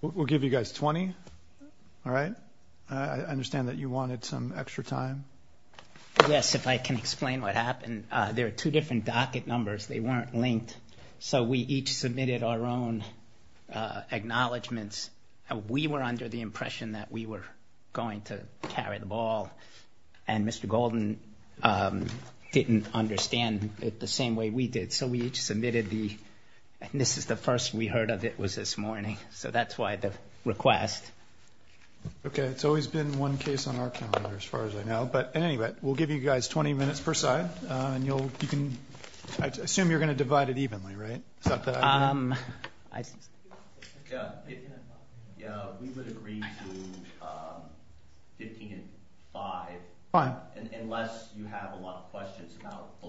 We'll give you guys 20, all right? I understand that you wanted some extra time. Yes, if I can explain what happened. There are two different docket numbers. They weren't linked, so we each submitted our own acknowledgments. We were under the impression that we were going to carry the ball, and Mr. Golden didn't understand it the same way we did. So we each submitted the, this is the first we heard of it was this morning, so that's why the request. Okay, it's always been one case on our calendar, as far as I know, but anyway, we'll give you guys 20 minutes per side, and you'll, you can, I assume you're going to divide it evenly, right? Yeah, we would agree to 15 and 5. Fine. Unless you have a lot of questions about the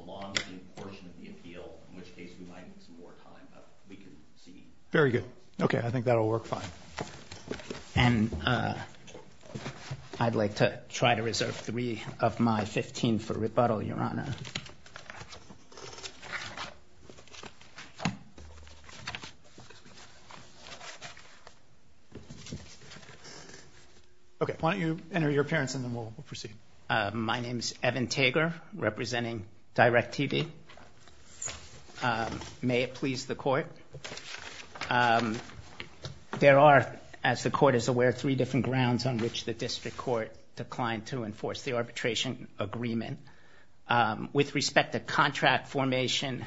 Very good. Okay, I think that'll work fine. And I'd like to try to reserve three of my 15 for rebuttal, Your Honor. Okay, why don't you enter your appearance, and then we'll proceed. My name is Evan Tager, representing DIRECTV. May it please the There are, as the Court is aware, three different grounds on which the District Court declined to enforce the arbitration agreement. With respect to contract formation,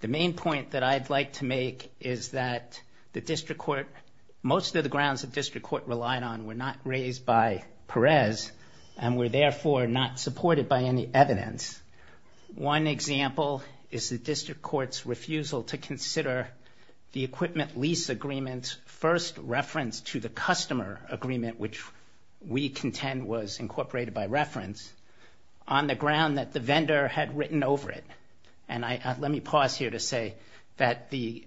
the main point that I'd like to make is that the District Court, most of the grounds the District Court relied on were not raised by Perez, and were therefore not supported by any evidence. One example is the lease agreement's first reference to the customer agreement, which we contend was incorporated by reference, on the ground that the vendor had written over it. And I, let me pause here to say that the,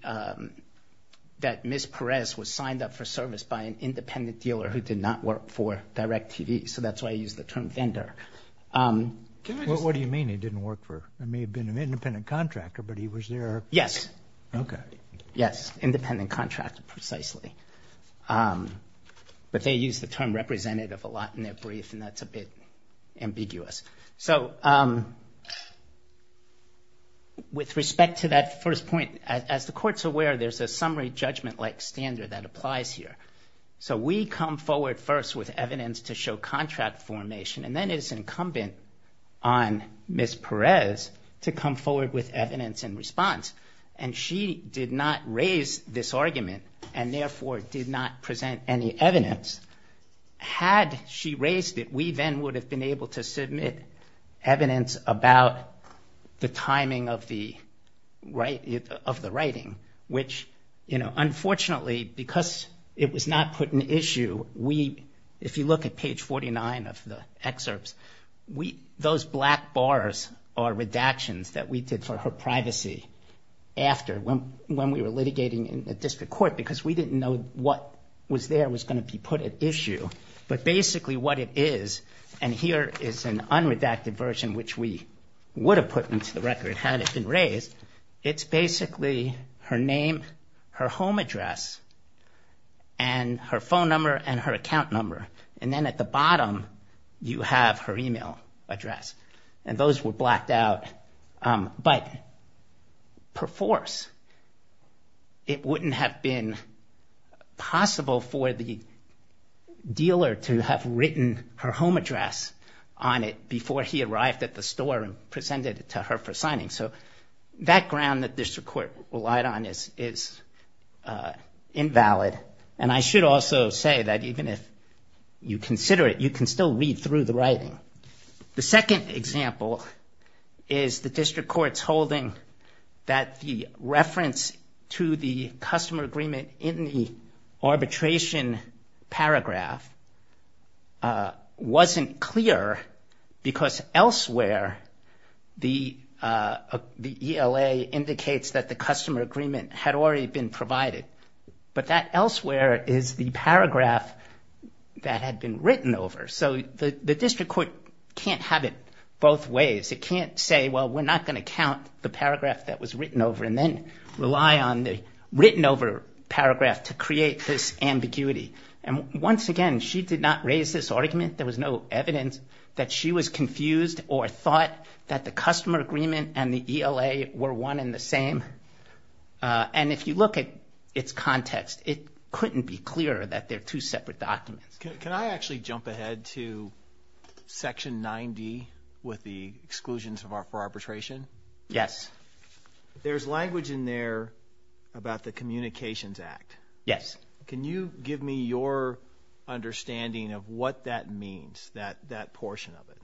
that Ms. Perez was signed up for service by an independent dealer who did not work for DIRECTV, so that's why I use the term vendor. What do you mean he didn't work for, it may have been an Okay. Yes, independent contractor, precisely. But they use the term representative a lot in their brief, and that's a bit ambiguous. So, with respect to that first point, as the Court's aware, there's a summary judgment-like standard that applies here. So we come forward first with evidence to show contract formation, and then it is incumbent on Ms. Perez to come forward with evidence in response. And she did not raise this argument, and therefore did not present any evidence. Had she raised it, we then would have been able to submit evidence about the timing of the writing, which, you know, unfortunately because it was not put in issue, we, if you look at page 49 of the excerpts, those black bars are redactions that we did for her privacy after, when we were litigating in the District Court, because we didn't know what was there was going to be put at issue. But basically what it is, and here is an unredacted version which we would have put into the record had it been raised, it's basically her name, her home address, and her phone number, and her account number. And then at the bottom, you have her email address, and those were blacked out. But per force, it wouldn't have been possible for the dealer to have written her home address on it before he arrived at the store and presented it to her for signing. So that ground that District Court relied on is invalid, and I should also say that even if you consider it, you can still read through the writing. The second example is the District Court's holding that the reference to the customer agreement in the arbitration paragraph wasn't clear because elsewhere the ELA indicates that the customer agreement had already been provided, but that elsewhere is the paragraph that had been written over. So the District Court can't have it both ways. It can't say, well, we're not going to count the paragraph that was written over and then rely on the written over paragraph to create this ambiguity. And once again, she did not raise this argument. There was no evidence that she was confused or thought that the its context, it couldn't be clearer that they're two separate documents. Can I actually jump ahead to Section 90 with the exclusions for arbitration? Yes. There's language in there about the Communications Act. Yes. Can you give me your understanding of what that means, that portion of it?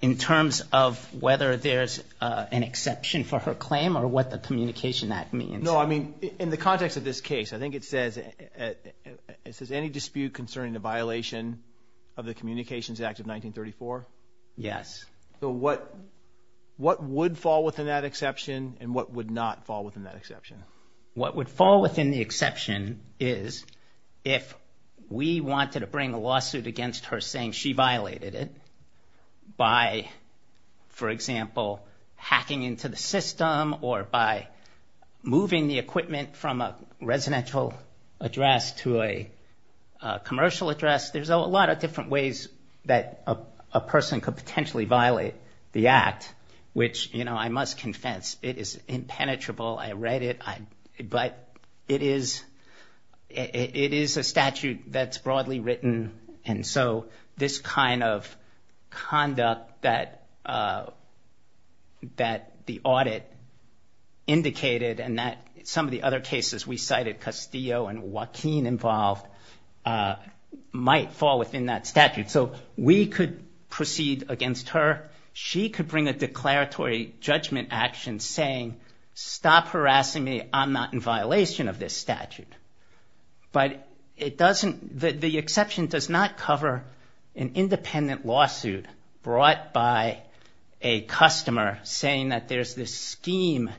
In terms of whether there's an exception for her claim or what the Communication Act means? No, I mean in the context of this case, I think it says, is there any dispute concerning the violation of the Communications Act of 1934? Yes. So what what would fall within that exception and what would not fall within that exception? What would fall within the exception is if we wanted to bring a hacking into the system or by moving the equipment from a residential address to a commercial address. There's a lot of different ways that a person could potentially violate the Act, which I must confess, it is impenetrable. I read it, but it is a statute that's broadly written. And so this kind of that the audit indicated and that some of the other cases we cited, Castillo and Joaquin involved, might fall within that statute. So we could proceed against her. She could bring a declaratory judgment action saying, stop harassing me, I'm not in violation of this statute. But it doesn't, the exception does not cover an saying that there's this scheme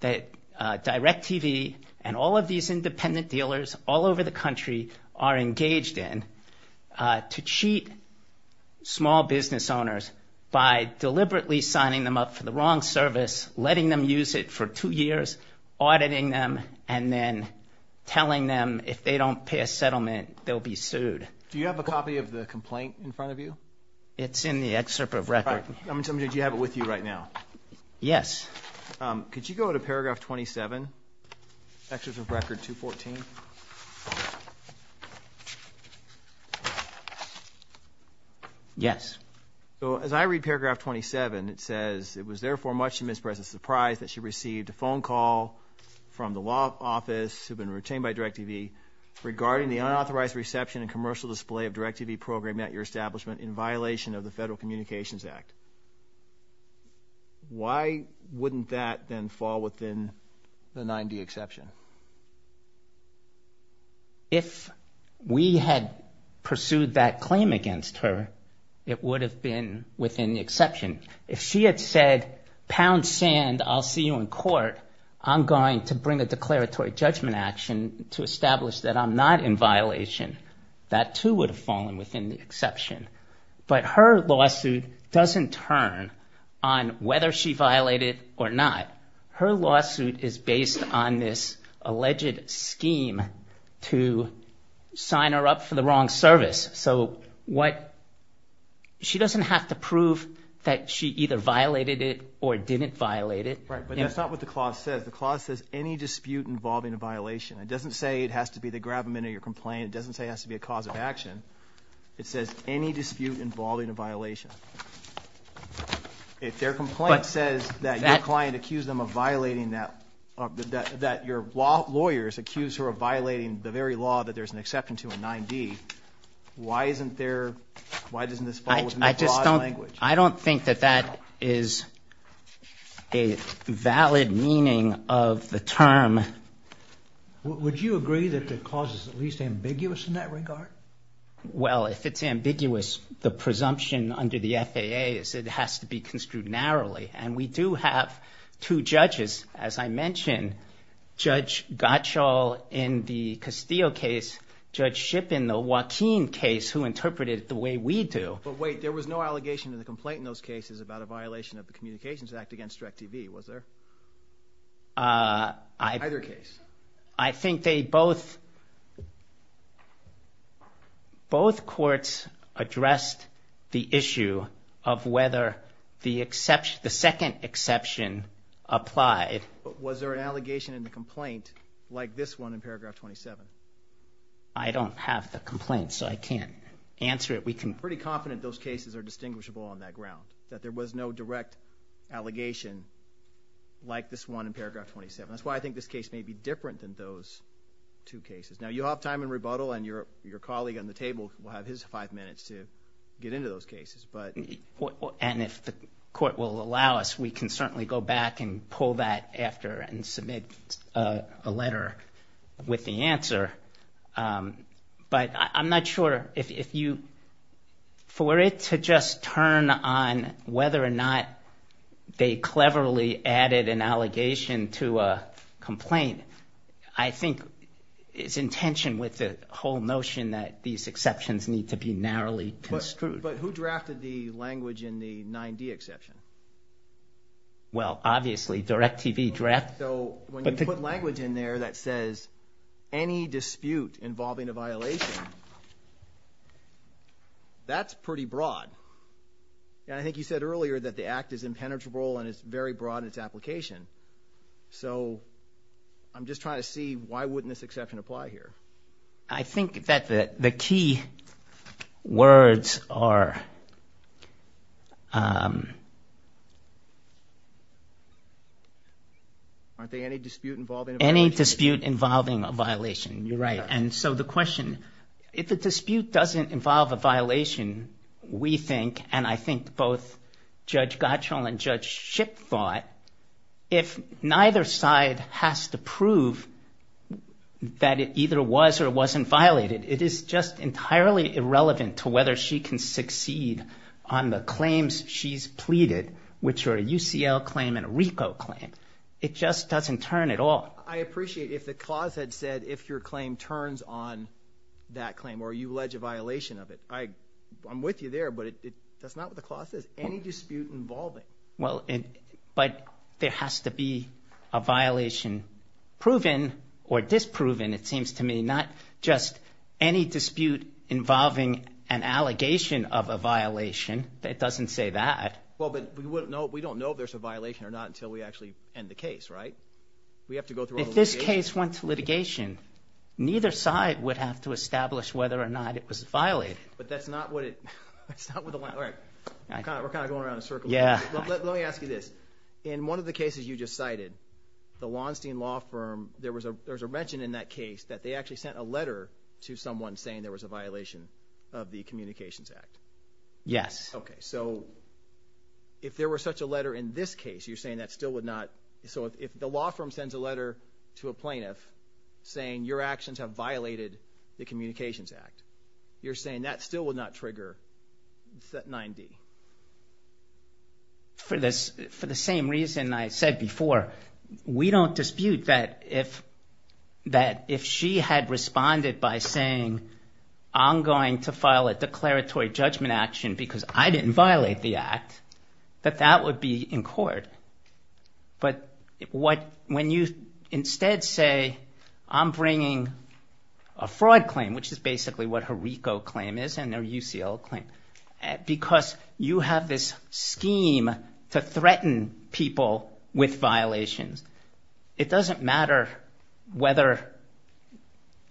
that DirecTV and all of these independent dealers all over the country are engaged in to cheat small business owners by deliberately signing them up for the wrong service, letting them use it for two years, auditing them, and then telling them if they don't pay a settlement they'll be sued. Do you have a copy of the complaint in front of you? It's in the excerpt of record. Did you have it with you right now? Yes. Could you go to paragraph 27, excerpt of record 214? Yes. So as I read paragraph 27, it says, it was therefore much to Ms. Perez's surprise that she received a phone call from the law office, who'd been retained by DirecTV, regarding the unauthorized reception and commercial display of DirecTV program at your establishment in violation of the Federal Communications Act. Why wouldn't that then fall within the 9D exception? If we had pursued that claim against her, it would have been within the exception. If she had said, pound sand, I'll see you in court, I'm going to bring a declaratory judgment action to establish that I'm not in the 9D exception. But her lawsuit doesn't turn on whether she violated or not. Her lawsuit is based on this alleged scheme to sign her up for the wrong service. So what, she doesn't have to prove that she either violated it or didn't violate it. Right, but that's not what the clause says. The clause says any dispute involving a violation. It doesn't say it has to be the grab-a-minute of your complaint. It says any dispute involving a violation. If their complaint says that your client accused them of violating that, that your lawyers accused her of violating the very law that there's an exception to in 9D, why isn't there, why doesn't this fall within the law's language? I don't think that that is a valid meaning of the term. Would you agree that the clause is at least ambiguous in that regard? Well, if it's ambiguous, the presumption under the FAA is it has to be construed narrowly. And we do have two judges, as I mentioned, Judge Gottschall in the Castillo case, Judge Shipp in the Joaquin case, who interpreted it the way we do. But wait, there was no allegation in the complaint in those cases about a violation of the law. Both courts addressed the issue of whether the second exception applied. Was there an allegation in the complaint like this one in paragraph 27? I don't have the complaint, so I can't answer it. We can be pretty confident those cases are distinguishable on that ground, that there was no direct allegation like this one in paragraph 27. That's why I think this case may be different than those two cases. Now, you have time in rebuttal, and your colleague on the table will have his five minutes to get into those cases. And if the court will allow us, we can certainly go back and pull that after and submit a letter with the answer. But I'm not sure if you... For it to just turn on whether or not they cleverly added an allegation to a complaint, I think it's in tension with the whole notion that these exceptions need to be narrowly construed. But who drafted the language in the 9-D exception? Well obviously, DirecTV drafted... So when you put language in there that says, any dispute involving a violation, that's pretty broad. And I think you said earlier that the act is impenetrable and it's very broad in application. So I'm just trying to see why wouldn't this exception apply here? I think that the key words are... Aren't they any dispute involving a violation? Any dispute involving a violation. You're right. And so the question, if a dispute doesn't involve a violation, we think, and I think both Judge Gottschall and Judge Shipp thought, if neither side has to prove that it either was or wasn't violated, it is just entirely irrelevant to whether she can succeed on the claims she's pleaded, which are a UCL claim and a RICO claim. It just doesn't turn at all. I appreciate if the clause had said, if your claim turns on that claim or you allege a violation of it. I'm with you there, but that's not what the clause says. Any dispute involving. Well, but there has to be a violation proven or disproven, it seems to me. Not just any dispute involving an allegation of a violation. It doesn't say that. Well, but we don't know if there's a violation or not until we actually end the case, right? We have to go through all the litigation. Neither side would have to establish whether or not it was violated. But that's not what it, that's not what the, all right, we're kind of going around in a circle. Let me ask you this. In one of the cases you just cited, the Launstein Law Firm, there was a mention in that case that they actually sent a letter to someone saying there was a violation of the Communications Act. Yes. Okay. So if there were such a letter in this case, you're saying that still would not, so if the law firm sends a letter to a plaintiff saying your actions have violated the Communications Act, you're saying that still would not trigger 9D? For the same reason I said before, we don't dispute that if she had responded by saying I'm going to file a declaratory judgment action because I didn't violate the act, that that would be in court. But what, when you instead say I'm bringing a fraud claim, which is basically what her RICO claim is and their UCL claim, because you have this scheme to threaten people with violations, it doesn't matter whether,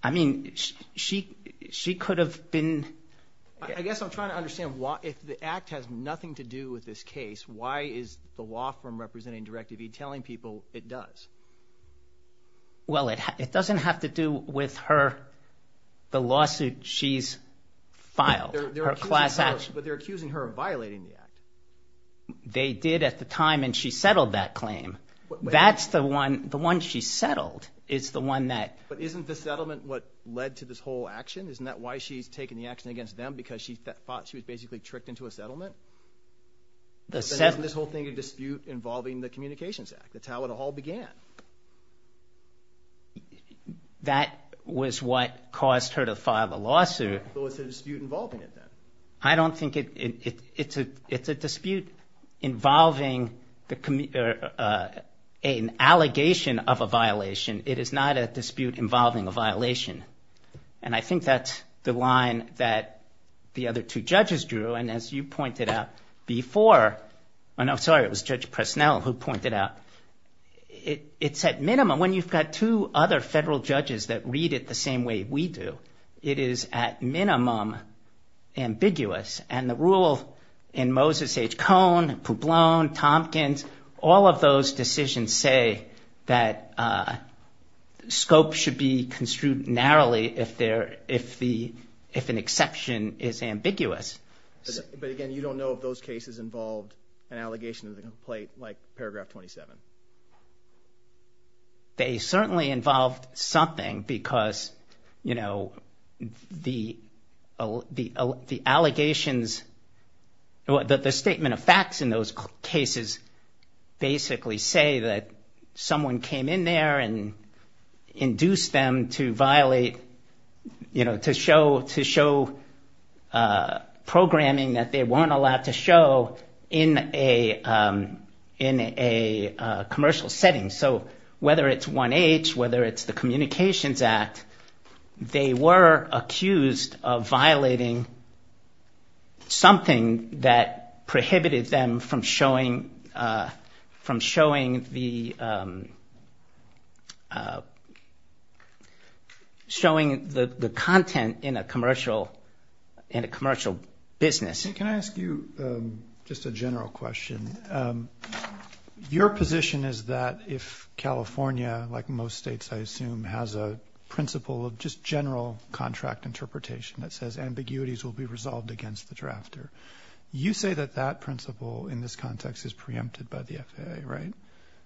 I mean, she, she could have been... I guess I'm trying to understand why, if the act has nothing to do with this case, why is the law firm representing Directive E telling people it does? Well it, it doesn't have to do with her, the lawsuit she's filed, her class action. But they're accusing her of violating the act. They did at the time and she settled that claim. That's the one, the one she settled is the one that... But isn't the settlement what led to this whole action? Isn't that why she's taking the action against them because she thought she was basically tricked into a settlement? The settlement... But then isn't this whole thing a dispute involving the Communications Act? That's how it all began. That was what caused her to file a lawsuit. So it's a dispute involving it then? I don't think it, it, it's a, it's a dispute involving the, an allegation of a violation. It is not a dispute involving a violation. And I think that's the line that the other two judges drew. And as you pointed out before, and I'm sorry, it was Judge Presnell who pointed out, it, it's at minimum, when you've got two other federal judges that read it the same way we do, it is at minimum ambiguous. And the rule in Moses H. Cohn, Publone, Tompkins, all of those decisions say that scope should be construed narrowly if there, if the, if an exception is ambiguous. But again, you don't know if those cases involved an allegation of the complaint, like paragraph 27. They certainly involved something because, you know, the, the, the allegations, the statement of facts in those cases basically say that someone came in there and induced them to violate, you know, to show, to show programming that they weren't allowed to show in a, in a commercial setting. So whether it's 1H, whether it's the Communications Act, they were accused of violating something that prohibited them from showing, from showing the, showing the, the content in a commercial, in a commercial business. And can I ask you just a general question? Your position is that if California, like most states I assume, has a principle of just You say that that principle in this context is preempted by the FAA, right?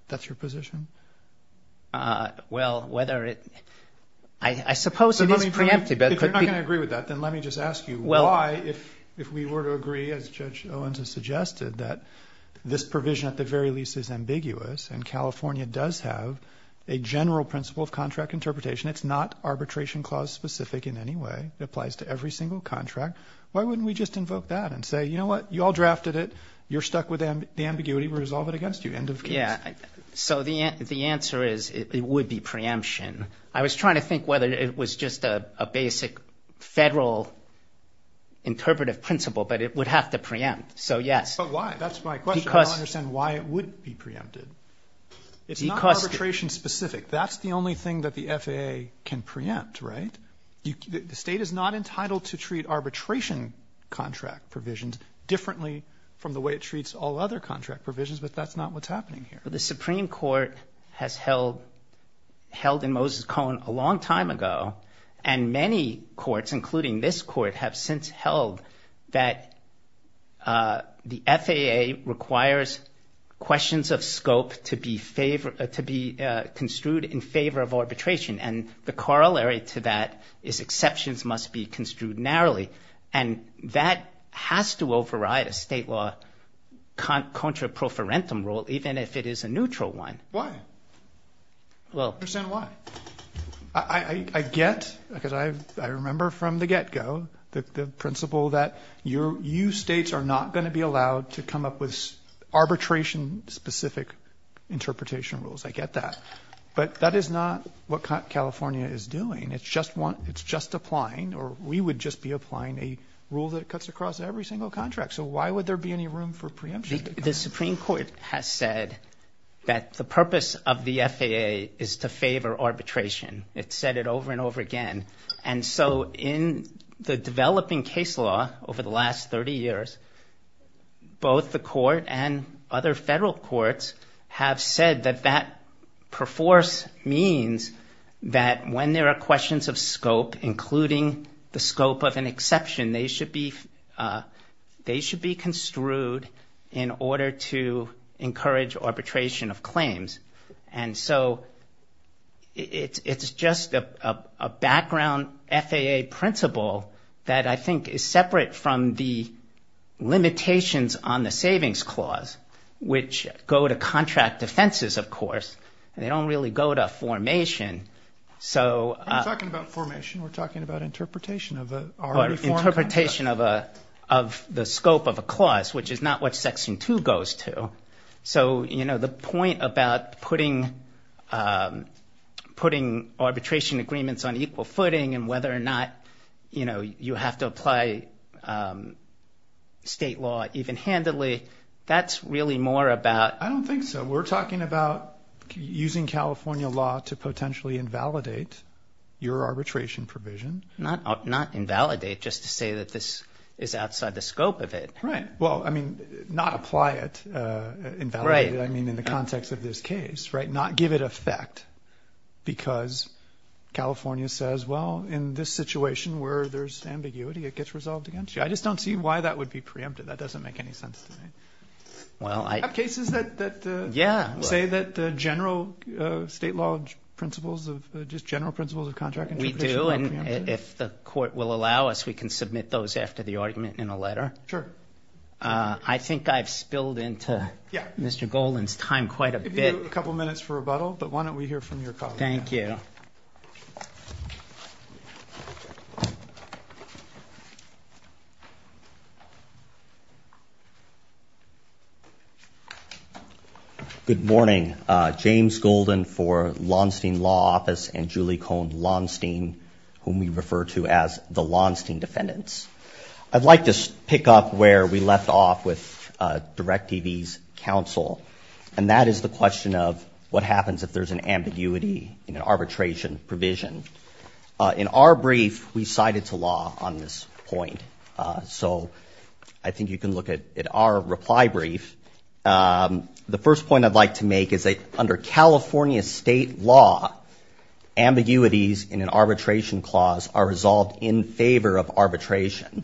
That's your position? Well, whether it, I suppose it is preempted, but If you're not going to agree with that, then let me just ask you why, if, if we were to agree as Judge Owens has suggested, that this provision at the very least is ambiguous and California does have a general principle of contract interpretation. It's not arbitration clause specific in any way. It applies to every single contract. Why wouldn't we just invoke that and say, you know what, you all drafted it. You're stuck with them. The ambiguity, we resolve it against you, end of case. So the, the answer is it would be preemption. I was trying to think whether it was just a, a basic federal interpretive principle, but it would have to preempt. So yes. But why? That's my question. I don't understand why it would be preempted. It's not arbitration specific. That's the only thing that the FAA can preempt, right? The state is not entitled to treat arbitration contract provisions differently from the way it treats all other contract provisions, but that's not what's happening here. The Supreme Court has held, held in Moses Cone a long time ago, and many courts, including this court, have since held that the FAA requires questions of scope to be favored, to be construed in favor of arbitration. And the corollary to that is exceptions must be construed narrowly. And that has to override a state law contra proferentum rule, even if it is a neutral one. Why? Well. I don't understand why. I, I, I get, because I, I remember from the get-go the, the principle that your, you states are not going to be allowed to come up with arbitration specific interpretation rules. I get that. But that is not what California is doing. It's just one, it's just applying, or we would just be applying a rule that cuts across every single contract. So why would there be any room for preemption? The Supreme Court has said that the purpose of the FAA is to favor arbitration. It said it over and over again. And so in the developing case law over the last 30 years, both the court and other federal courts have said that that perforce means that when there are questions of scope, including the scope of an exception, they should be, they should be construed in order to encourage arbitration of claims. And so it's, it's just a, a background FAA principle that I think is separate from the go to contract defenses, of course, and they don't really go to formation. So talking about formation, we're talking about interpretation of the interpretation of a, of the scope of a clause, which is not what section two goes to. So you know, the point about putting, putting arbitration agreements on equal footing and whether or not, you know, you have to apply state law even handedly, that's really more about... I don't think so. We're talking about using California law to potentially invalidate your arbitration provision. Not invalidate, just to say that this is outside the scope of it. Right. Well, I mean, not apply it, invalidate it, I mean, in the context of this case, right? Because California says, well, in this situation where there's ambiguity, it gets resolved against you. I just don't see why that would be preempted. That doesn't make any sense to me. Well, I... Have cases that... Yeah. ...say that the general state law principles of, just general principles of contract interpretation are preempted? We do, and if the court will allow us, we can submit those after the argument in a letter. Sure. I think I've spilled into Mr. Golden's time quite a bit. If you do, a couple minutes for rebuttal, but why don't we hear from your colleague? Thank you. Good morning. James Golden for Lonstein Law Office and Julie Cohn Lonstein, whom we refer to as the Lonstein defendants. I'd like to pick up where we left off with DirectDV's counsel, and that is the question of what happens if there's an ambiguity in an arbitration provision. In our brief, we cited to law on this point, so I think you can look at our reply brief. The first point I'd like to make is that under California state law, ambiguities in an arbitration clause are resolved in favor of arbitration.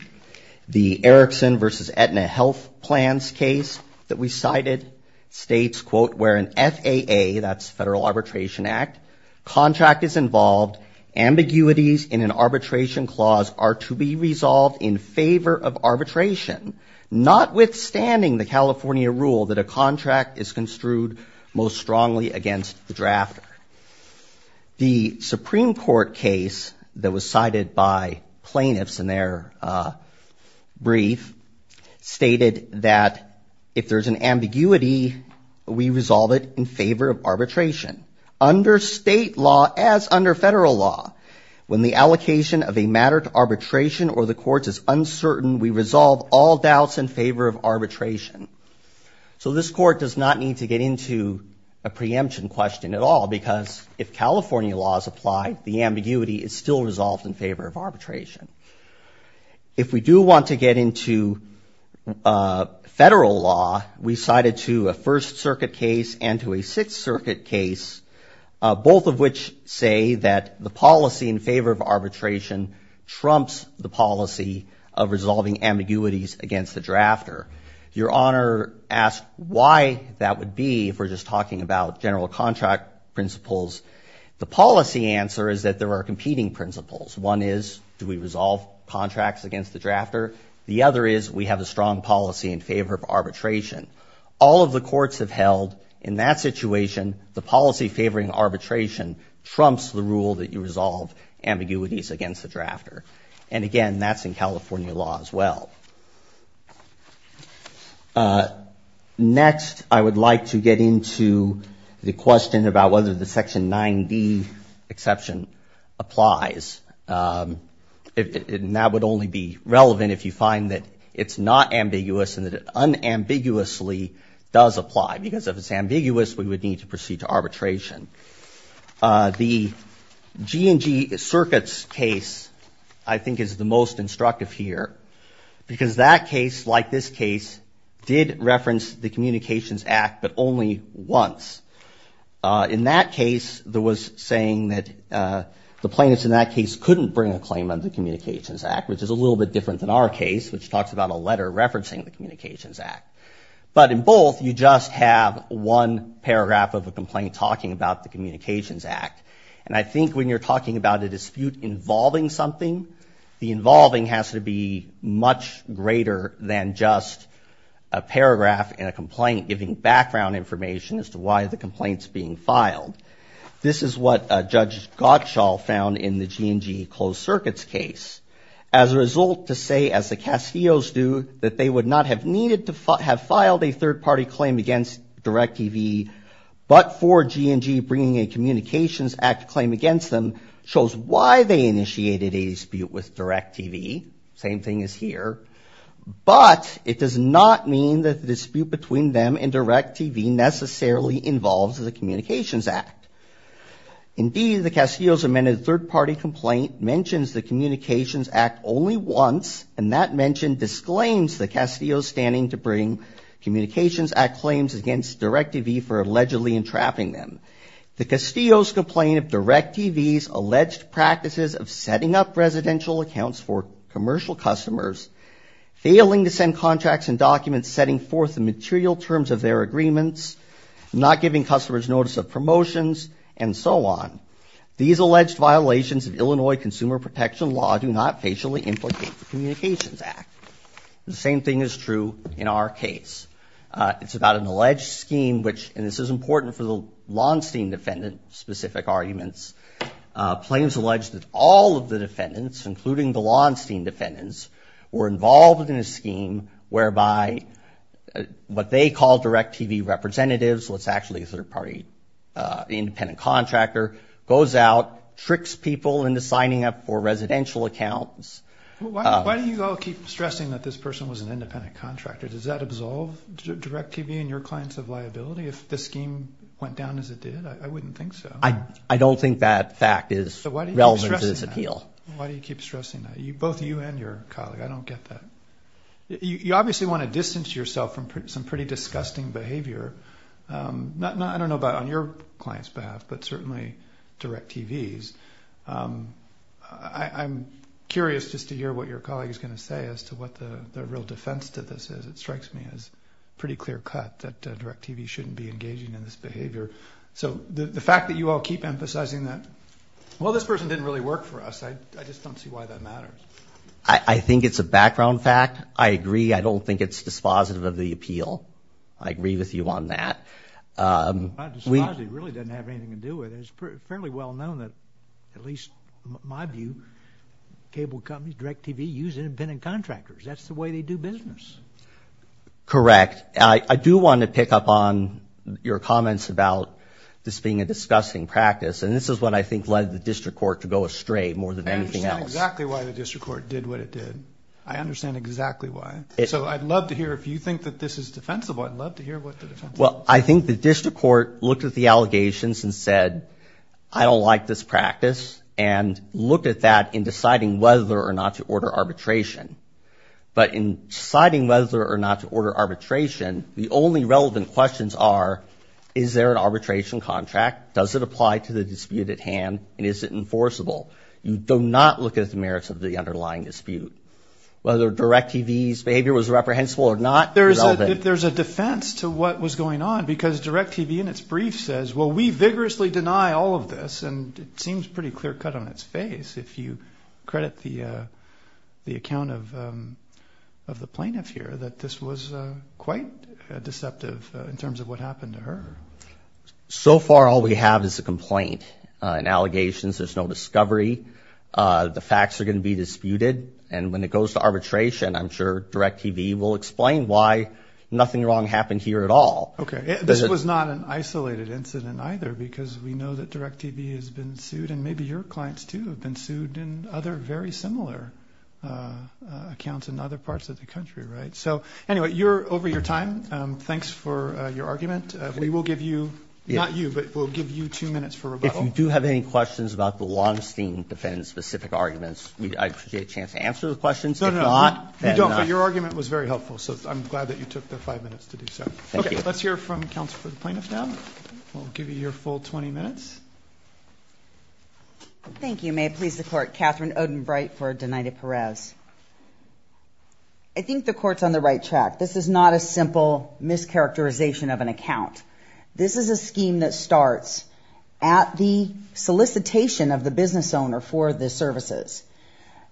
The Erikson versus Aetna Health Plans case that we cited states, quote, where an FAA, that's Federal Arbitration Act, contract is involved. Ambiguities in an arbitration clause are to be resolved in favor of arbitration, notwithstanding the California rule that a contract is construed most strongly against the drafter. The Supreme Court case that was cited by plaintiffs in their brief stated that if there's an ambiguity, we resolve it in favor of arbitration. Under state law, as under federal law, when the allocation of a matter to arbitration or the courts is uncertain, we resolve all doubts in favor of arbitration. So this court does not need to get into a preemption question at all, because if California law is applied, the ambiguity is still resolved in favor of arbitration. If we do want to get into federal law, we cited to a First Circuit case and to a Sixth Circuit case, both of which say that the policy in favor of arbitration trumps the policy of resolving ambiguities against the drafter. Your Honor asked why that would be, if we're just talking about general contract principles. The policy answer is that there are competing principles. One is, do we resolve contracts against the drafter? The other is, we have a strong policy in favor of arbitration. All of the courts have held, in that situation, the policy favoring arbitration trumps the rule that you resolve ambiguities against the drafter. And again, that's in California law as well. Next, I would like to get into the question about whether the Section 9d exception applies. That would only be relevant if you find that it's not ambiguous and that it unambiguously does apply. Because if it's ambiguous, we would need to proceed to arbitration. The G&G Circuits case, I think, is the most instructive here. Because that case, like this case, did reference the Communications Act, but only once. In that case, there was saying that the plaintiffs in that case couldn't bring a claim under the Communications Act, which is a little bit different than our case, which talks about a letter referencing the Communications Act. But in both, you just have one paragraph of a complaint talking about the Communications Act. And I think when you're talking about a dispute involving something, the involving has to be much greater than just a paragraph in a complaint giving background information as to why the complaint's being filed. This is what Judge Gottschall found in the G&G Closed Circuits case. As a result, to say, as the Casillos do, that they would not have needed to have filed a third-party claim against DirecTV, but for G&G bringing a Communications Act claim against them, shows why they initiated a dispute with DirecTV. Same thing as here. But it does not mean that the dispute between them and DirecTV necessarily involves the Communications Act. Indeed, the Casillos' amended third-party complaint mentions the Communications Act only once, and that mention disclaims the Casillos' standing to bring Communications Act claims against DirecTV for allegedly entrapping them. The Casillos' complaint of DirecTV's alleged practices of setting up residential accounts for commercial customers, failing to send contracts and documents, setting forth the and so on. These alleged violations of Illinois consumer protection law do not facially implicate the Communications Act. The same thing is true in our case. It's about an alleged scheme which, and this is important for the Launstein defendant-specific arguments, claims alleged that all of the defendants, including the Launstein defendants, were involved in a scheme whereby what they call DirecTV representatives, what's actually a third-party independent contractor, goes out, tricks people into signing up for residential accounts. Why do you all keep stressing that this person was an independent contractor? Does that absolve DirecTV and your clients of liability if the scheme went down as it did? I wouldn't think so. I don't think that fact is relevant to this appeal. Why do you keep stressing that? Both you and your colleague. I don't get that. You obviously want to distance yourself from some pretty disgusting behavior, not, I don't know about on your client's behalf, but certainly DirecTV's. I'm curious just to hear what your colleague is going to say as to what the real defense to this is. It strikes me as pretty clear-cut that DirecTV shouldn't be engaging in this behavior. So the fact that you all keep emphasizing that, well, this person didn't really work for us, I just don't see why that matters. I think it's a background fact. I agree. I don't think it's dispositive of the appeal. I agree with you on that. It really doesn't have anything to do with it. It's fairly well known that, at least in my view, cable companies, DirecTV, use independent contractors. That's the way they do business. Correct. I do want to pick up on your comments about this being a disgusting practice, and this is what I think led the district court to go astray more than anything else. I understand exactly why the district court did what it did. I understand exactly why. So I'd love to hear, if you think that this is defensible, I'd love to hear what the defensible is. Well, I think the district court looked at the allegations and said, I don't like this practice and looked at that in deciding whether or not to order arbitration. But in deciding whether or not to order arbitration, the only relevant questions are, is there an arbitration contract? Does it apply to the dispute at hand, and is it enforceable? You do not look at the merits of the underlying dispute. Whether DirecTV's behavior was reprehensible or not is relevant. There's a defense to what was going on because DirecTV, in its brief, says, well, we vigorously deny all of this, and it seems pretty clear-cut on its face, if you credit the account of the plaintiff here, that this was quite deceptive in terms of what happened to her. So far, all we have is a complaint and allegations. There's no discovery. The facts are going to be disputed. And when it goes to arbitration, I'm sure DirecTV will explain why nothing wrong happened here at all. Okay. This was not an isolated incident, either, because we know that DirecTV has been sued, and maybe your clients, too, have been sued in other very similar accounts in other parts of the country, right? So anyway, you're over your time. Thanks for your argument. We will give you, not you, but we'll give you two minutes for rebuttal. If you do have any questions about the Longstein defendant-specific arguments, I appreciate a chance to answer the questions. No, no, no. You don't, but your argument was very helpful, so I'm glad that you took the five minutes to do so. Thank you. Okay. Let's hear from counsel for the plaintiff now. We'll give you your full 20 minutes. Thank you. May it please the Court. Catherine Odenbright for Dinaita-Perez. I think the Court's on the right track. This is not a simple mischaracterization of an account. This is a scheme that starts at the solicitation of the business owner for the services.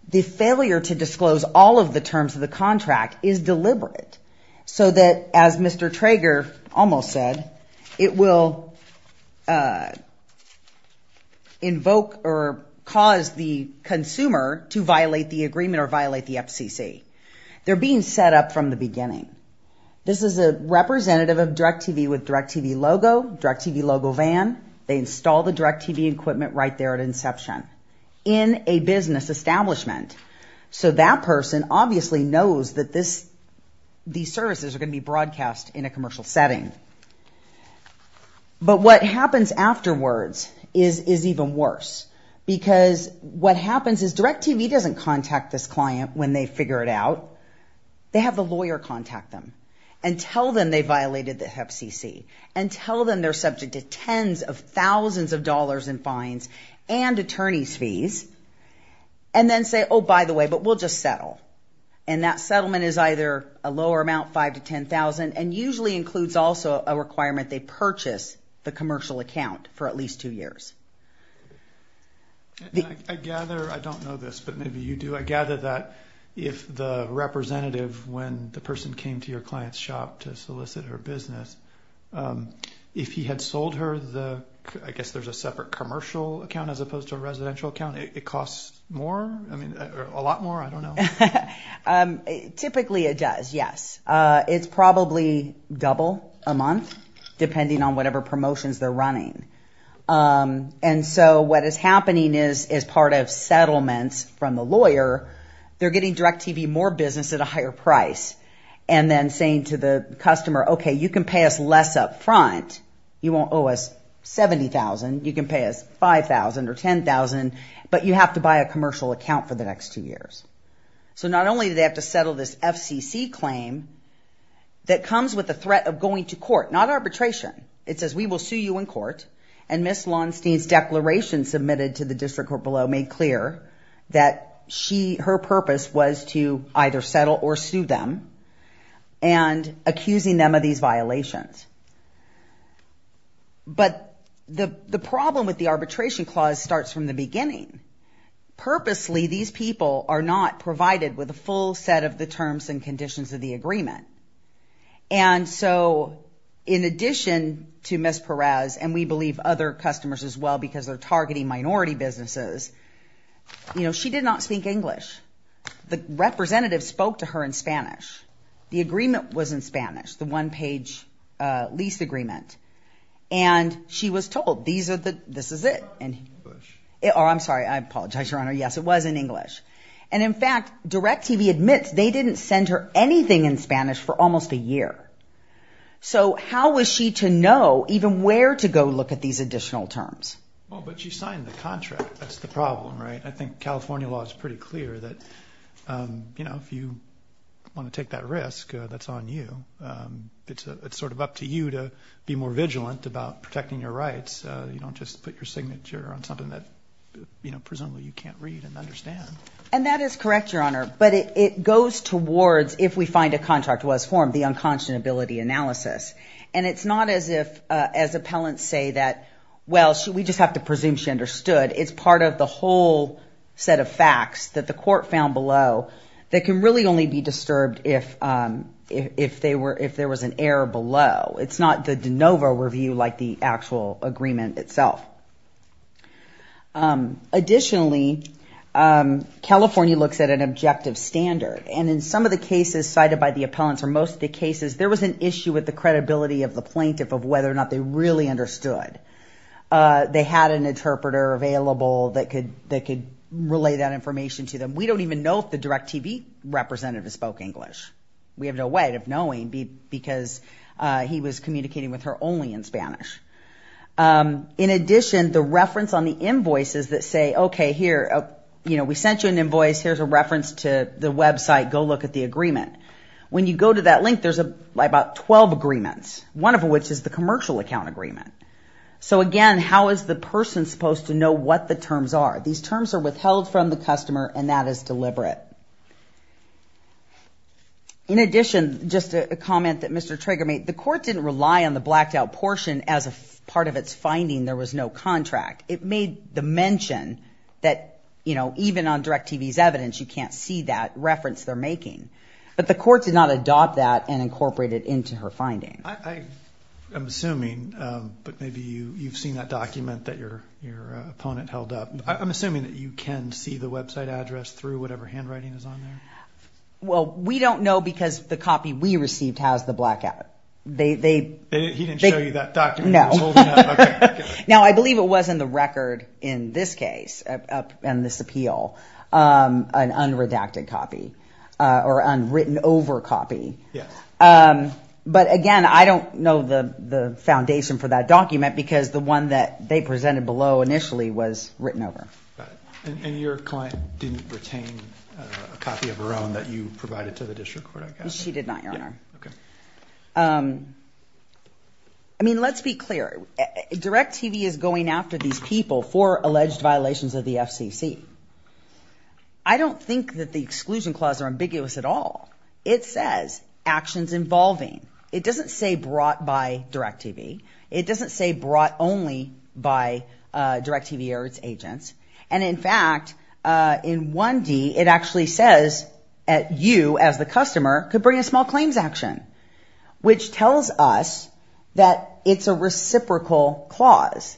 The failure to disclose all of the terms of the contract is deliberate so that, as Mr. Trager almost said, it will invoke or cause the consumer to violate the agreement or violate the FCC. They're being set up from the beginning. This is a representative of DirecTV with DirecTV logo, DirecTV logo van. They install the DirecTV equipment right there at inception in a business establishment. So that person obviously knows that these services are going to be broadcast in a commercial setting. But what happens afterwards is even worse because what happens is DirecTV doesn't contact this client when they figure it out. They have the lawyer contact them and tell them they violated the FCC and tell them they're subject to tens of thousands of dollars in fines and attorney's fees and then say, oh, by the way, but we'll just settle. And that settlement is either a lower amount, $5,000 to $10,000, and usually includes also a requirement they purchase the commercial account for at least two years. I gather, I don't know this, but maybe you do. I gather that if the representative, when the person came to your client's shop to solicit her business, if he had sold her the, I guess there's a separate commercial account as opposed to a residential account, it costs more, I mean, a lot more, I don't know. Typically it does, yes. It's probably double a month depending on whatever promotions they're running. And so what is happening is as part of settlements from the lawyer, they're getting DirecTV more business at a higher price and then saying to the customer, okay, you can pay us less up front. You won't owe us $70,000. You can pay us $5,000 or $10,000, but you have to buy a commercial account for the next two years. So not only do they have to settle this FCC claim that comes with the threat of going to court, not arbitration, it says we will sue you in court. And Ms. Lonstein's declaration submitted to the district court below made clear that she, her purpose was to either settle or sue them and accusing them of these violations. But the problem with the arbitration clause starts from the beginning. Purposely, these people are not provided with a full set of the terms and conditions of the agreement. And so in addition to Ms. Perez, and we believe other customers as well because they're targeting minority businesses, you know, she did not speak English. The representative spoke to her in Spanish. The agreement was in Spanish, the one page lease agreement. And she was told these are the, this is it. And I'm sorry, I apologize, your honor. Yes, it was in English. And in fact, DirecTV admits they didn't send her anything in Spanish for almost a year. So how was she to know even where to go look at these additional terms? Well, but you signed the contract. That's the problem, right? I think California law is pretty clear that, you know, if you want to take that risk, that's on you. It's sort of up to you to be more vigilant about protecting your rights. You don't just put your signature on something that, you know, presumably you can't read and understand. And that is correct, your honor. But it goes towards, if we find a contract was formed, the unconscionability analysis. And it's not as if, as appellants say that, well, we just have to presume she understood. It's part of the whole set of facts that the court found below that can really only be disturbed if, if they were, if there was an error below. It's not the de novo review like the actual agreement itself. Additionally, California looks at an objective standard. And in some of the cases cited by the appellants or most of the cases, there was an issue with the credibility of the plaintiff of whether or not they really understood. They had an interpreter available that could, that could relay that information to them. We don't even know if the DirecTV representative spoke English. We have no way of knowing because he was communicating with her only in Spanish. In addition, the reference on the invoices that say, okay, here, you know, we sent you an invoice. Here's a reference to the website. Go look at the agreement. When you go to that link, there's about 12 agreements. One of which is the commercial account agreement. So again, how is the person supposed to know what the terms are? These terms are withheld from the customer and that is deliberate. In addition, just a comment that Mr. Traeger made, the court didn't rely on the blacked out portion as a part of its finding. There was no contract. It made the mention that, you know, even on DirecTV's evidence, you can't see that reference they're making. But the court did not adopt that and incorporate it into her finding. I'm assuming, but maybe you, you've seen that document that your, your opponent held up. I'm assuming that you can see the website address through whatever handwriting is on there? Well, we don't know because the copy we received has the blackout. They, they, they. He didn't show you that document? No. Now, I believe it was in the record in this case and this appeal, an unredacted copy or unwritten over copy. But again, I don't know the, the foundation for that document because the one that they And your client didn't retain a copy of her own that you provided to the district court? She did not, your honor. Okay. Um, I mean, let's be clear, DirecTV is going after these people for alleged violations of the FCC. I don't think that the exclusion clause are ambiguous at all. It says actions involving, it doesn't say brought by DirecTV. It doesn't say brought only by, uh, DirecTV or its agents. And in fact, uh, in 1D, it actually says at you as the customer could bring a small claims action, which tells us that it's a reciprocal clause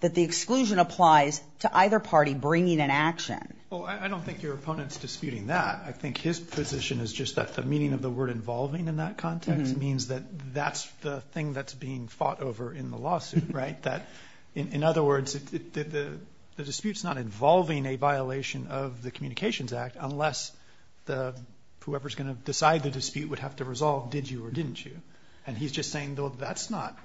that the exclusion applies to either party bringing an action. Well, I don't think your opponent's disputing that. I think his position is just that the meaning of the word involving in that context means that that's the thing that's being fought over in the lawsuit, right? That in other words, it, the, the dispute's not involving a violation of the communications act unless the, whoever's going to decide the dispute would have to resolve, did you or didn't you? And he's just saying, well, that's not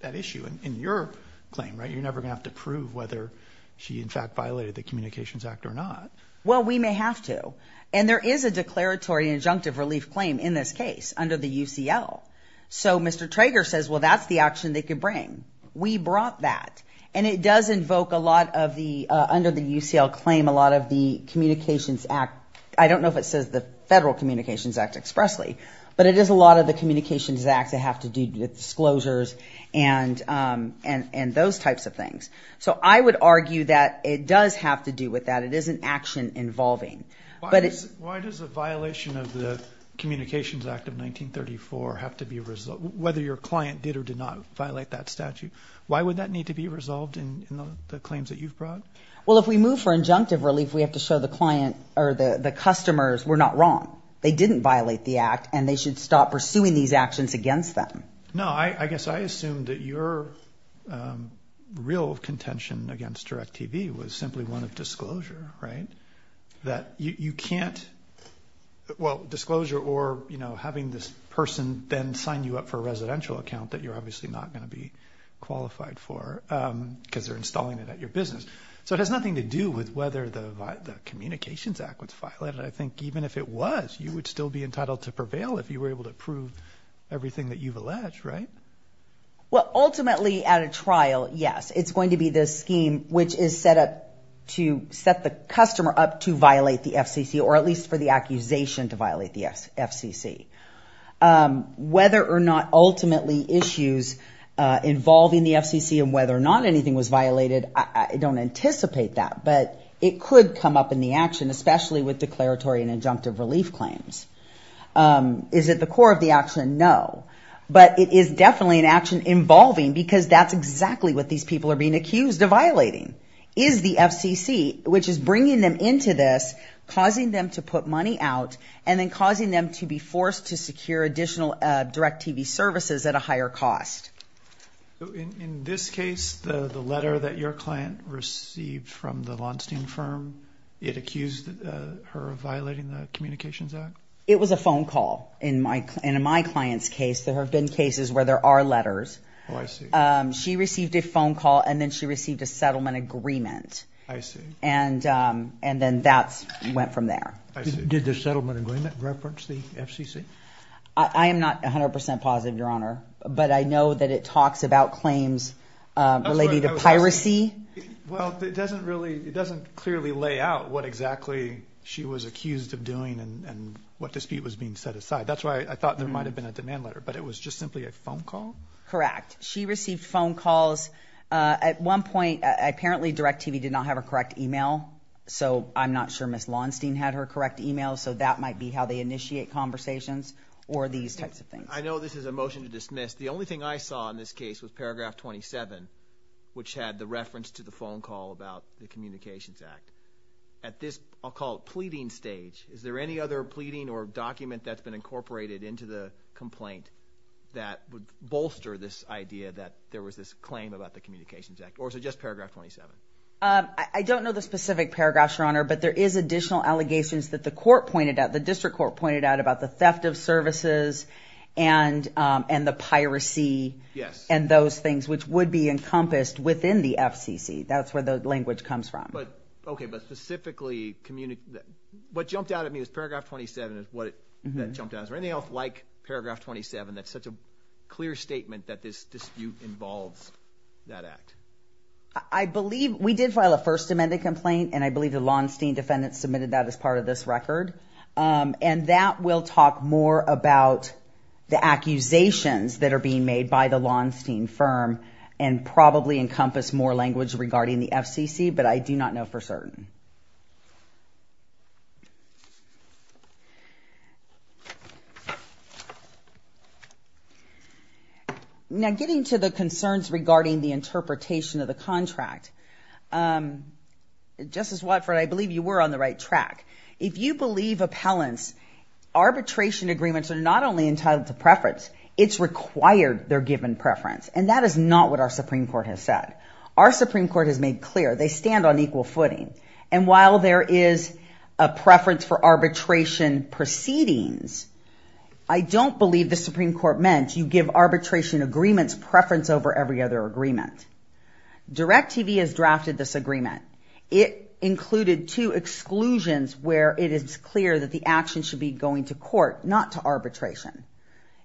that issue in your claim, right? You're never going to have to prove whether she in fact violated the communications act or not. Well, we may have to, and there is a declaratory injunctive relief claim in this case under the UCL. So Mr. Trager says, well, that's the action they could bring. We brought that. And it does invoke a lot of the, uh, under the UCL claim, a lot of the communications act. I don't know if it says the federal communications act expressly, but it is a lot of the communications acts that have to do with disclosures and, um, and, and those types of things. So I would argue that it does have to do with that. It is an action involving, but it's, why does the violation of the communications act of 1934 have to be a result? Whether your client did or did not violate that statute, why would that need to be resolved in the claims that you've brought? Well, if we move for injunctive relief, we have to show the client or the customers were not wrong. They didn't violate the act and they should stop pursuing these actions against them. No, I guess I assumed that your, um, real contention against direct TV was simply one of disclosure, right? That you, you can't, well, disclosure or, you know, having this person then sign you up for a residential account that you're obviously not going to be qualified for, um, cause they're installing it at your business. So it has nothing to do with whether the communications act was violated. I think even if it was, you would still be entitled to prevail if you were able to prove everything that you've alleged, right? Well ultimately at a trial, yes, it's going to be this scheme which is set up to set the to violate the FCC or at least for the accusation to violate the FCC, um, whether or not ultimately issues, uh, involving the FCC and whether or not anything was violated. I don't anticipate that, but it could come up in the action, especially with declaratory and injunctive relief claims. Um, is it the core of the action? No, but it is definitely an action involving because that's exactly what these people are being accused of violating. Is the FCC, which is bringing them into this, causing them to put money out and then causing them to be forced to secure additional, uh, direct TV services at a higher cost. So in this case, the, the letter that your client received from the von steen firm, it accused her of violating the communications act. It was a phone call in my, in my client's case, there have been cases where there are letters. Oh I see. Um, she received a phone call and then she received a settlement agreement and um, and then that's went from there. Did the settlement agreement reference the FCC? I am not a hundred percent positive your honor, but I know that it talks about claims relating to piracy. Well, it doesn't really, it doesn't clearly lay out what exactly she was accused of doing and what dispute was being set aside. That's why I thought there might've been a demand letter, but it was just simply a phone call. Correct. She received phone calls. Uh, at one point, uh, apparently direct TV did not have a correct email, so I'm not sure miss lawnstein had her correct email, so that might be how they initiate conversations or these types of things. I know this is a motion to dismiss. The only thing I saw in this case was paragraph 27, which had the reference to the phone call about the communications act at this, I'll call it pleading stage. Is there any other pleading or document that's been incorporated into the complaint that would bolster this idea that there was this claim about the communications act or is it just paragraph 27? Um, I don't know the specific paragraphs your honor, but there is additional allegations that the court pointed out. The district court pointed out about the theft of services and um, and the piracy and those things which would be encompassed within the FCC. That's where the language comes from. But okay. But specifically communi... What jumped out at me was paragraph 27 is what it jumped out as or anything else like paragraph 27 that's such a clear statement that this dispute involves that act. I believe we did file a first amendment complaint and I believe the Lawnstein defendants submitted that as part of this record. Um, and that will talk more about the accusations that are being made by the Lawnstein firm and probably encompass more language regarding the FCC, but I do not know for certain. Now, getting to the concerns regarding the interpretation of the contract, um, Justice Watford, I believe you were on the right track. If you believe appellants, arbitration agreements are not only entitled to preference, it's required they're given preference. And that is not what our Supreme Court has said. Our Supreme Court has made clear they stand on equal footing. And while there is a preference for arbitration proceedings, I don't believe the Supreme Court meant you give arbitration agreements preference over every other agreement. Direct TV has drafted this agreement. It included two exclusions where it is clear that the action should be going to court, not to arbitration.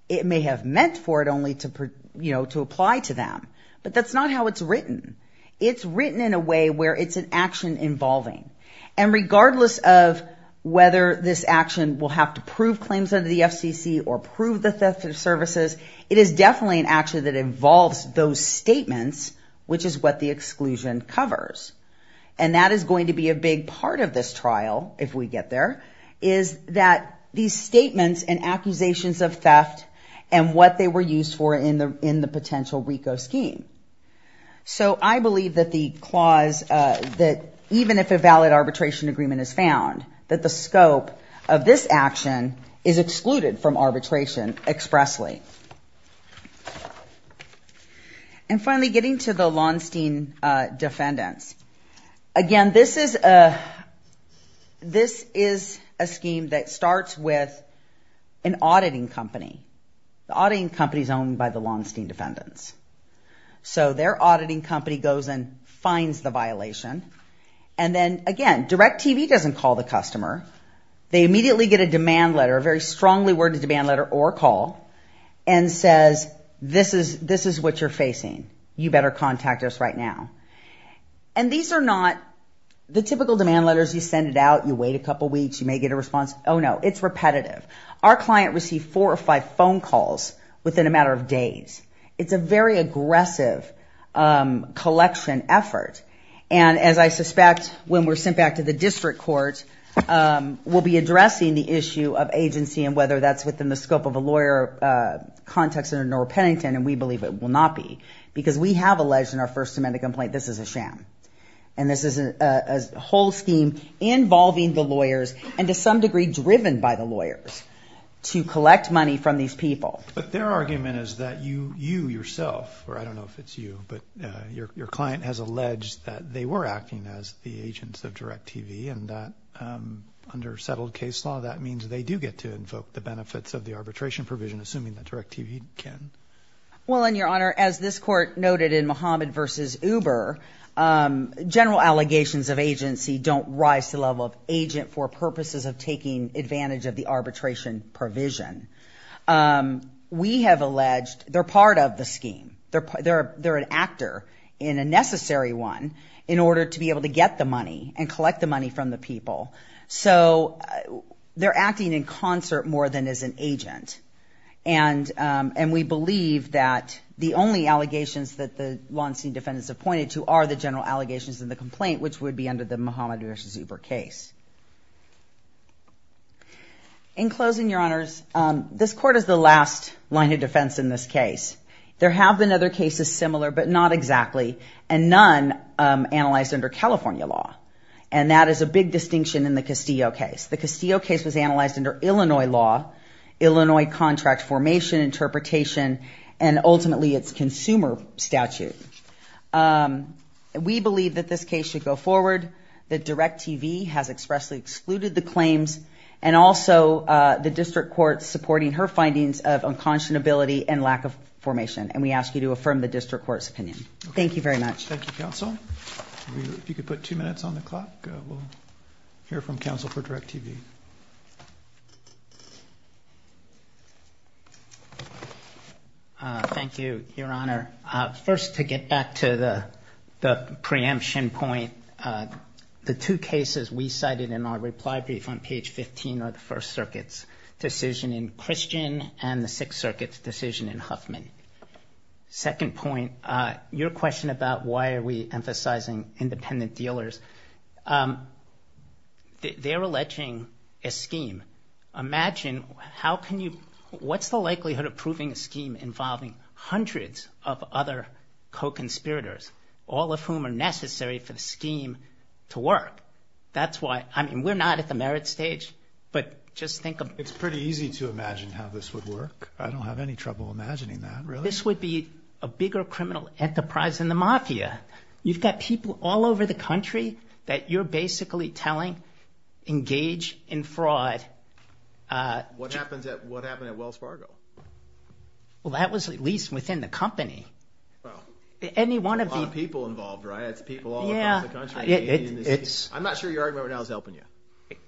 It may have meant for it only to, you know, to apply to them, but that's not how it's written. It's written in a way where it's an action involving, and regardless of whether this action will have to prove claims under the FCC or prove the theft of services, it is definitely an action that involves those statements, which is what the exclusion covers. And that is going to be a big part of this trial, if we get there, is that these statements and accusations of theft and what they were used for in the, in the potential RICO scheme. So I believe that the clause, that even if a valid arbitration agreement is found, that the scope of this action is excluded from arbitration expressly. And finally, getting to the Launstein defendants, again, this is a, this is a scheme that starts with an auditing company. The auditing company is owned by the Launstein defendants. So their auditing company goes and finds the violation. And then, again, DirecTV doesn't call the customer. They immediately get a demand letter, a very strongly worded demand letter or a call, and says, this is, this is what you're facing. You better contact us right now. And these are not the typical demand letters. You send it out, you wait a couple weeks, you may get a response, oh no, it's repetitive. Our client received four or five phone calls within a matter of days. It's a very aggressive collection effort. And as I suspect, when we're sent back to the district court, we'll be addressing the issue of agency and whether that's within the scope of a lawyer context under Norah Pennington, and we believe it will not be. Because we have alleged in our first amendment complaint, this is a sham. And this is a whole scheme involving the lawyers, and to some degree driven by the lawyers, to collect money from these people. But their argument is that you, you yourself, or I don't know if it's you, but your client has alleged that they were acting as the agents of DirecTV and that under settled case law, that means they do get to invoke the benefits of the arbitration provision, assuming that DirecTV can. Well, in your honor, as this court noted in Mohammed versus Uber, general allegations of agency don't rise to the level of agent for purposes of taking advantage of the arbitration provision. We have alleged, they're part of the scheme, they're an actor in a necessary one in order to be able to get the money and collect the money from the people. So they're acting in concert more than as an agent. And we believe that the only allegations that the Law Enseam defendants have pointed to are the general allegations in the complaint, which would be under the Mohammed versus Uber case. In closing, your honors, this court is the last line of defense in this case. There have been other cases similar, but not exactly. And none analyzed under California law. And that is a big distinction in the Castillo case. The Castillo case was analyzed under Illinois law, Illinois contract formation interpretation, and ultimately it's consumer statute. We believe that this case should go forward, that DirecTV has expressly excluded the claims, and also the district court supporting her findings of unconscionability and lack of formation. And we ask you to affirm the district court's opinion. Thank you very much. Thank you, counsel. If you could put two minutes on the clock, we'll hear from counsel for DirecTV. Thank you, your honor. First to get back to the preemption point, the two cases we cited in our reply brief on page 15 are the First Circuit's decision in Christian and the Sixth Circuit's decision in Huffman. And second point, your question about why are we emphasizing independent dealers, they're alleging a scheme. Imagine how can you, what's the likelihood of proving a scheme involving hundreds of other co-conspirators, all of whom are necessary for the scheme to work? That's why, I mean, we're not at the merit stage, but just think of. It's pretty easy to imagine how this would work. I don't have any trouble imagining that, really. This would be a bigger criminal enterprise than the mafia. You've got people all over the country that you're basically telling, engage in fraud. What happened at Wells Fargo? Well, that was at least within the company. Wow. Any one of the- A lot of people involved, right? It's people all over the country. Yeah. I'm not sure you're arguing what I was helping you.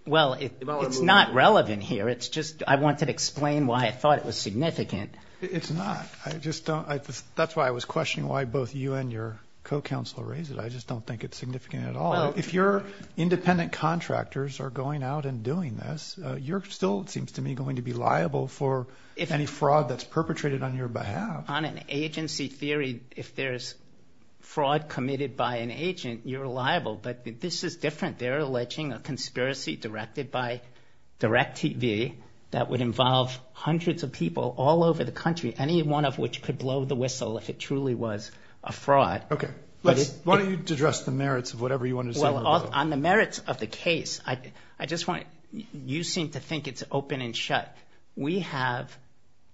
Well, it's not relevant here. It's just I wanted to explain why I thought it was significant. It's not. I just don't, that's why I was questioning why both you and your co-counselor raised it. I just don't think it's significant at all. If your independent contractors are going out and doing this, you're still, it seems to me, going to be liable for any fraud that's perpetrated on your behalf. On an agency theory, if there's fraud committed by an agent, you're liable, but this is different. They're alleging a conspiracy directed by DirecTV that would involve hundreds of people all over the country, any one of which could blow the whistle if it truly was a fraud. Okay. Why don't you address the merits of whatever you wanted to say? On the merits of the case, I just want to, you seem to think it's open and shut. We have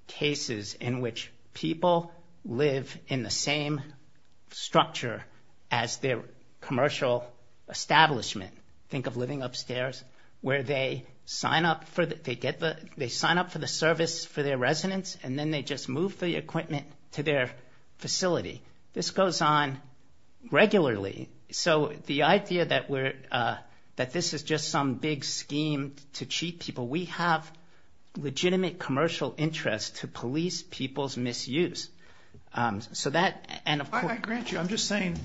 cases in which people live in the same structure as their commercial establishment. Think of living upstairs, where they sign up for the service for their residence, and then they just move the equipment to their facility. This goes on regularly, so the idea that this is just some big scheme to cheat people. We have legitimate commercial interest to police people's misuse. So that, and of course- I grant you. I'm just saying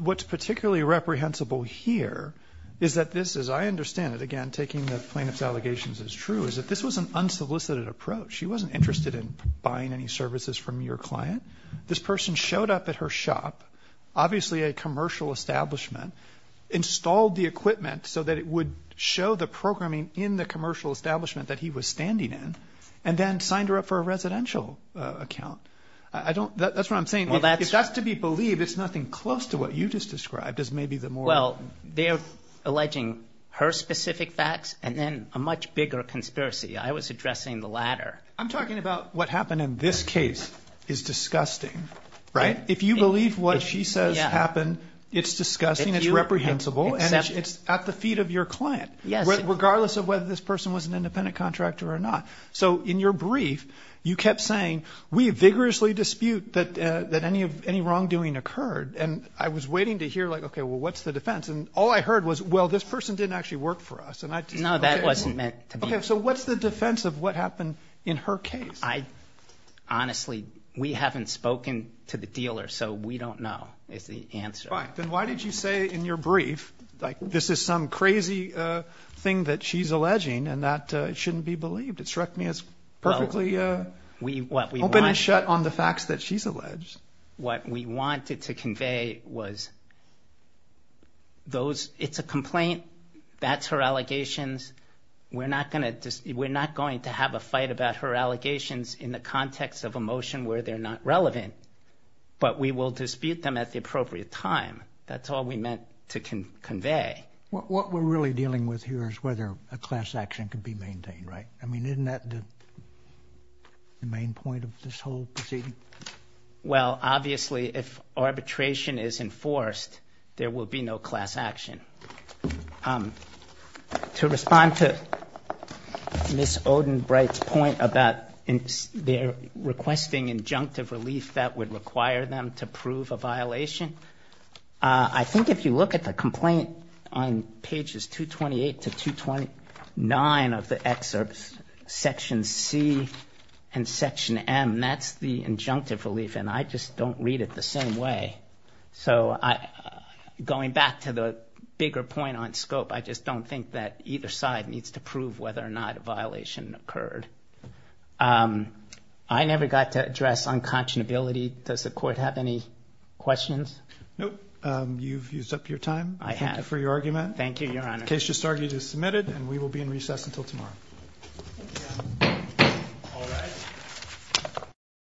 what's particularly reprehensible here is that this, as I understand it, again, taking the plaintiff's allegations as true, is that this was an unsolicited approach. She wasn't interested in buying any services from your client. This person showed up at her shop, obviously a commercial establishment, installed the programming in the commercial establishment that he was standing in, and then signed her up for a residential account. I don't, that's what I'm saying, if that's to be believed, it's nothing close to what you just described as maybe the more- Well, they're alleging her specific facts, and then a much bigger conspiracy. I was addressing the latter. I'm talking about what happened in this case is disgusting, right? If you believe what she says happened, it's disgusting, it's reprehensible, and it's at the feet of your client, regardless of whether this person was an independent contractor or not. So in your brief, you kept saying, we vigorously dispute that any wrongdoing occurred, and I was waiting to hear, like, okay, well, what's the defense? And all I heard was, well, this person didn't actually work for us, and I just- No, that wasn't meant to be. Okay, so what's the defense of what happened in her case? Honestly, we haven't spoken to the dealer, so we don't know is the answer. Fine. Then why did you say in your brief, like, this is some crazy thing that she's alleging, and that it shouldn't be believed? It struck me as perfectly open and shut on the facts that she's alleged. What we wanted to convey was, it's a complaint, that's her allegations, we're not going to have a fight about her allegations in the context of a motion where they're not relevant, but we will dispute them at the appropriate time. That's all we meant to convey. What we're really dealing with here is whether a class action can be maintained, right? I mean, isn't that the main point of this whole proceeding? Well, obviously, if arbitration is enforced, there will be no class action. To respond to Ms. Odenbright's point about their requesting injunctive relief that would require them to prove a violation, I think if you look at the complaint on pages 228 to 229 of the excerpts, section C and section M, that's the injunctive relief, and I just don't read it the same way. So, going back to the bigger point on scope, I just don't think that either side needs to prove whether or not a violation occurred. I never got to address unconscionability. Does the court have any questions? Nope. You've used up your time. I have. Thank you for your argument. Thank you, Your Honor. The case just argued is submitted, and we will be in recess until tomorrow.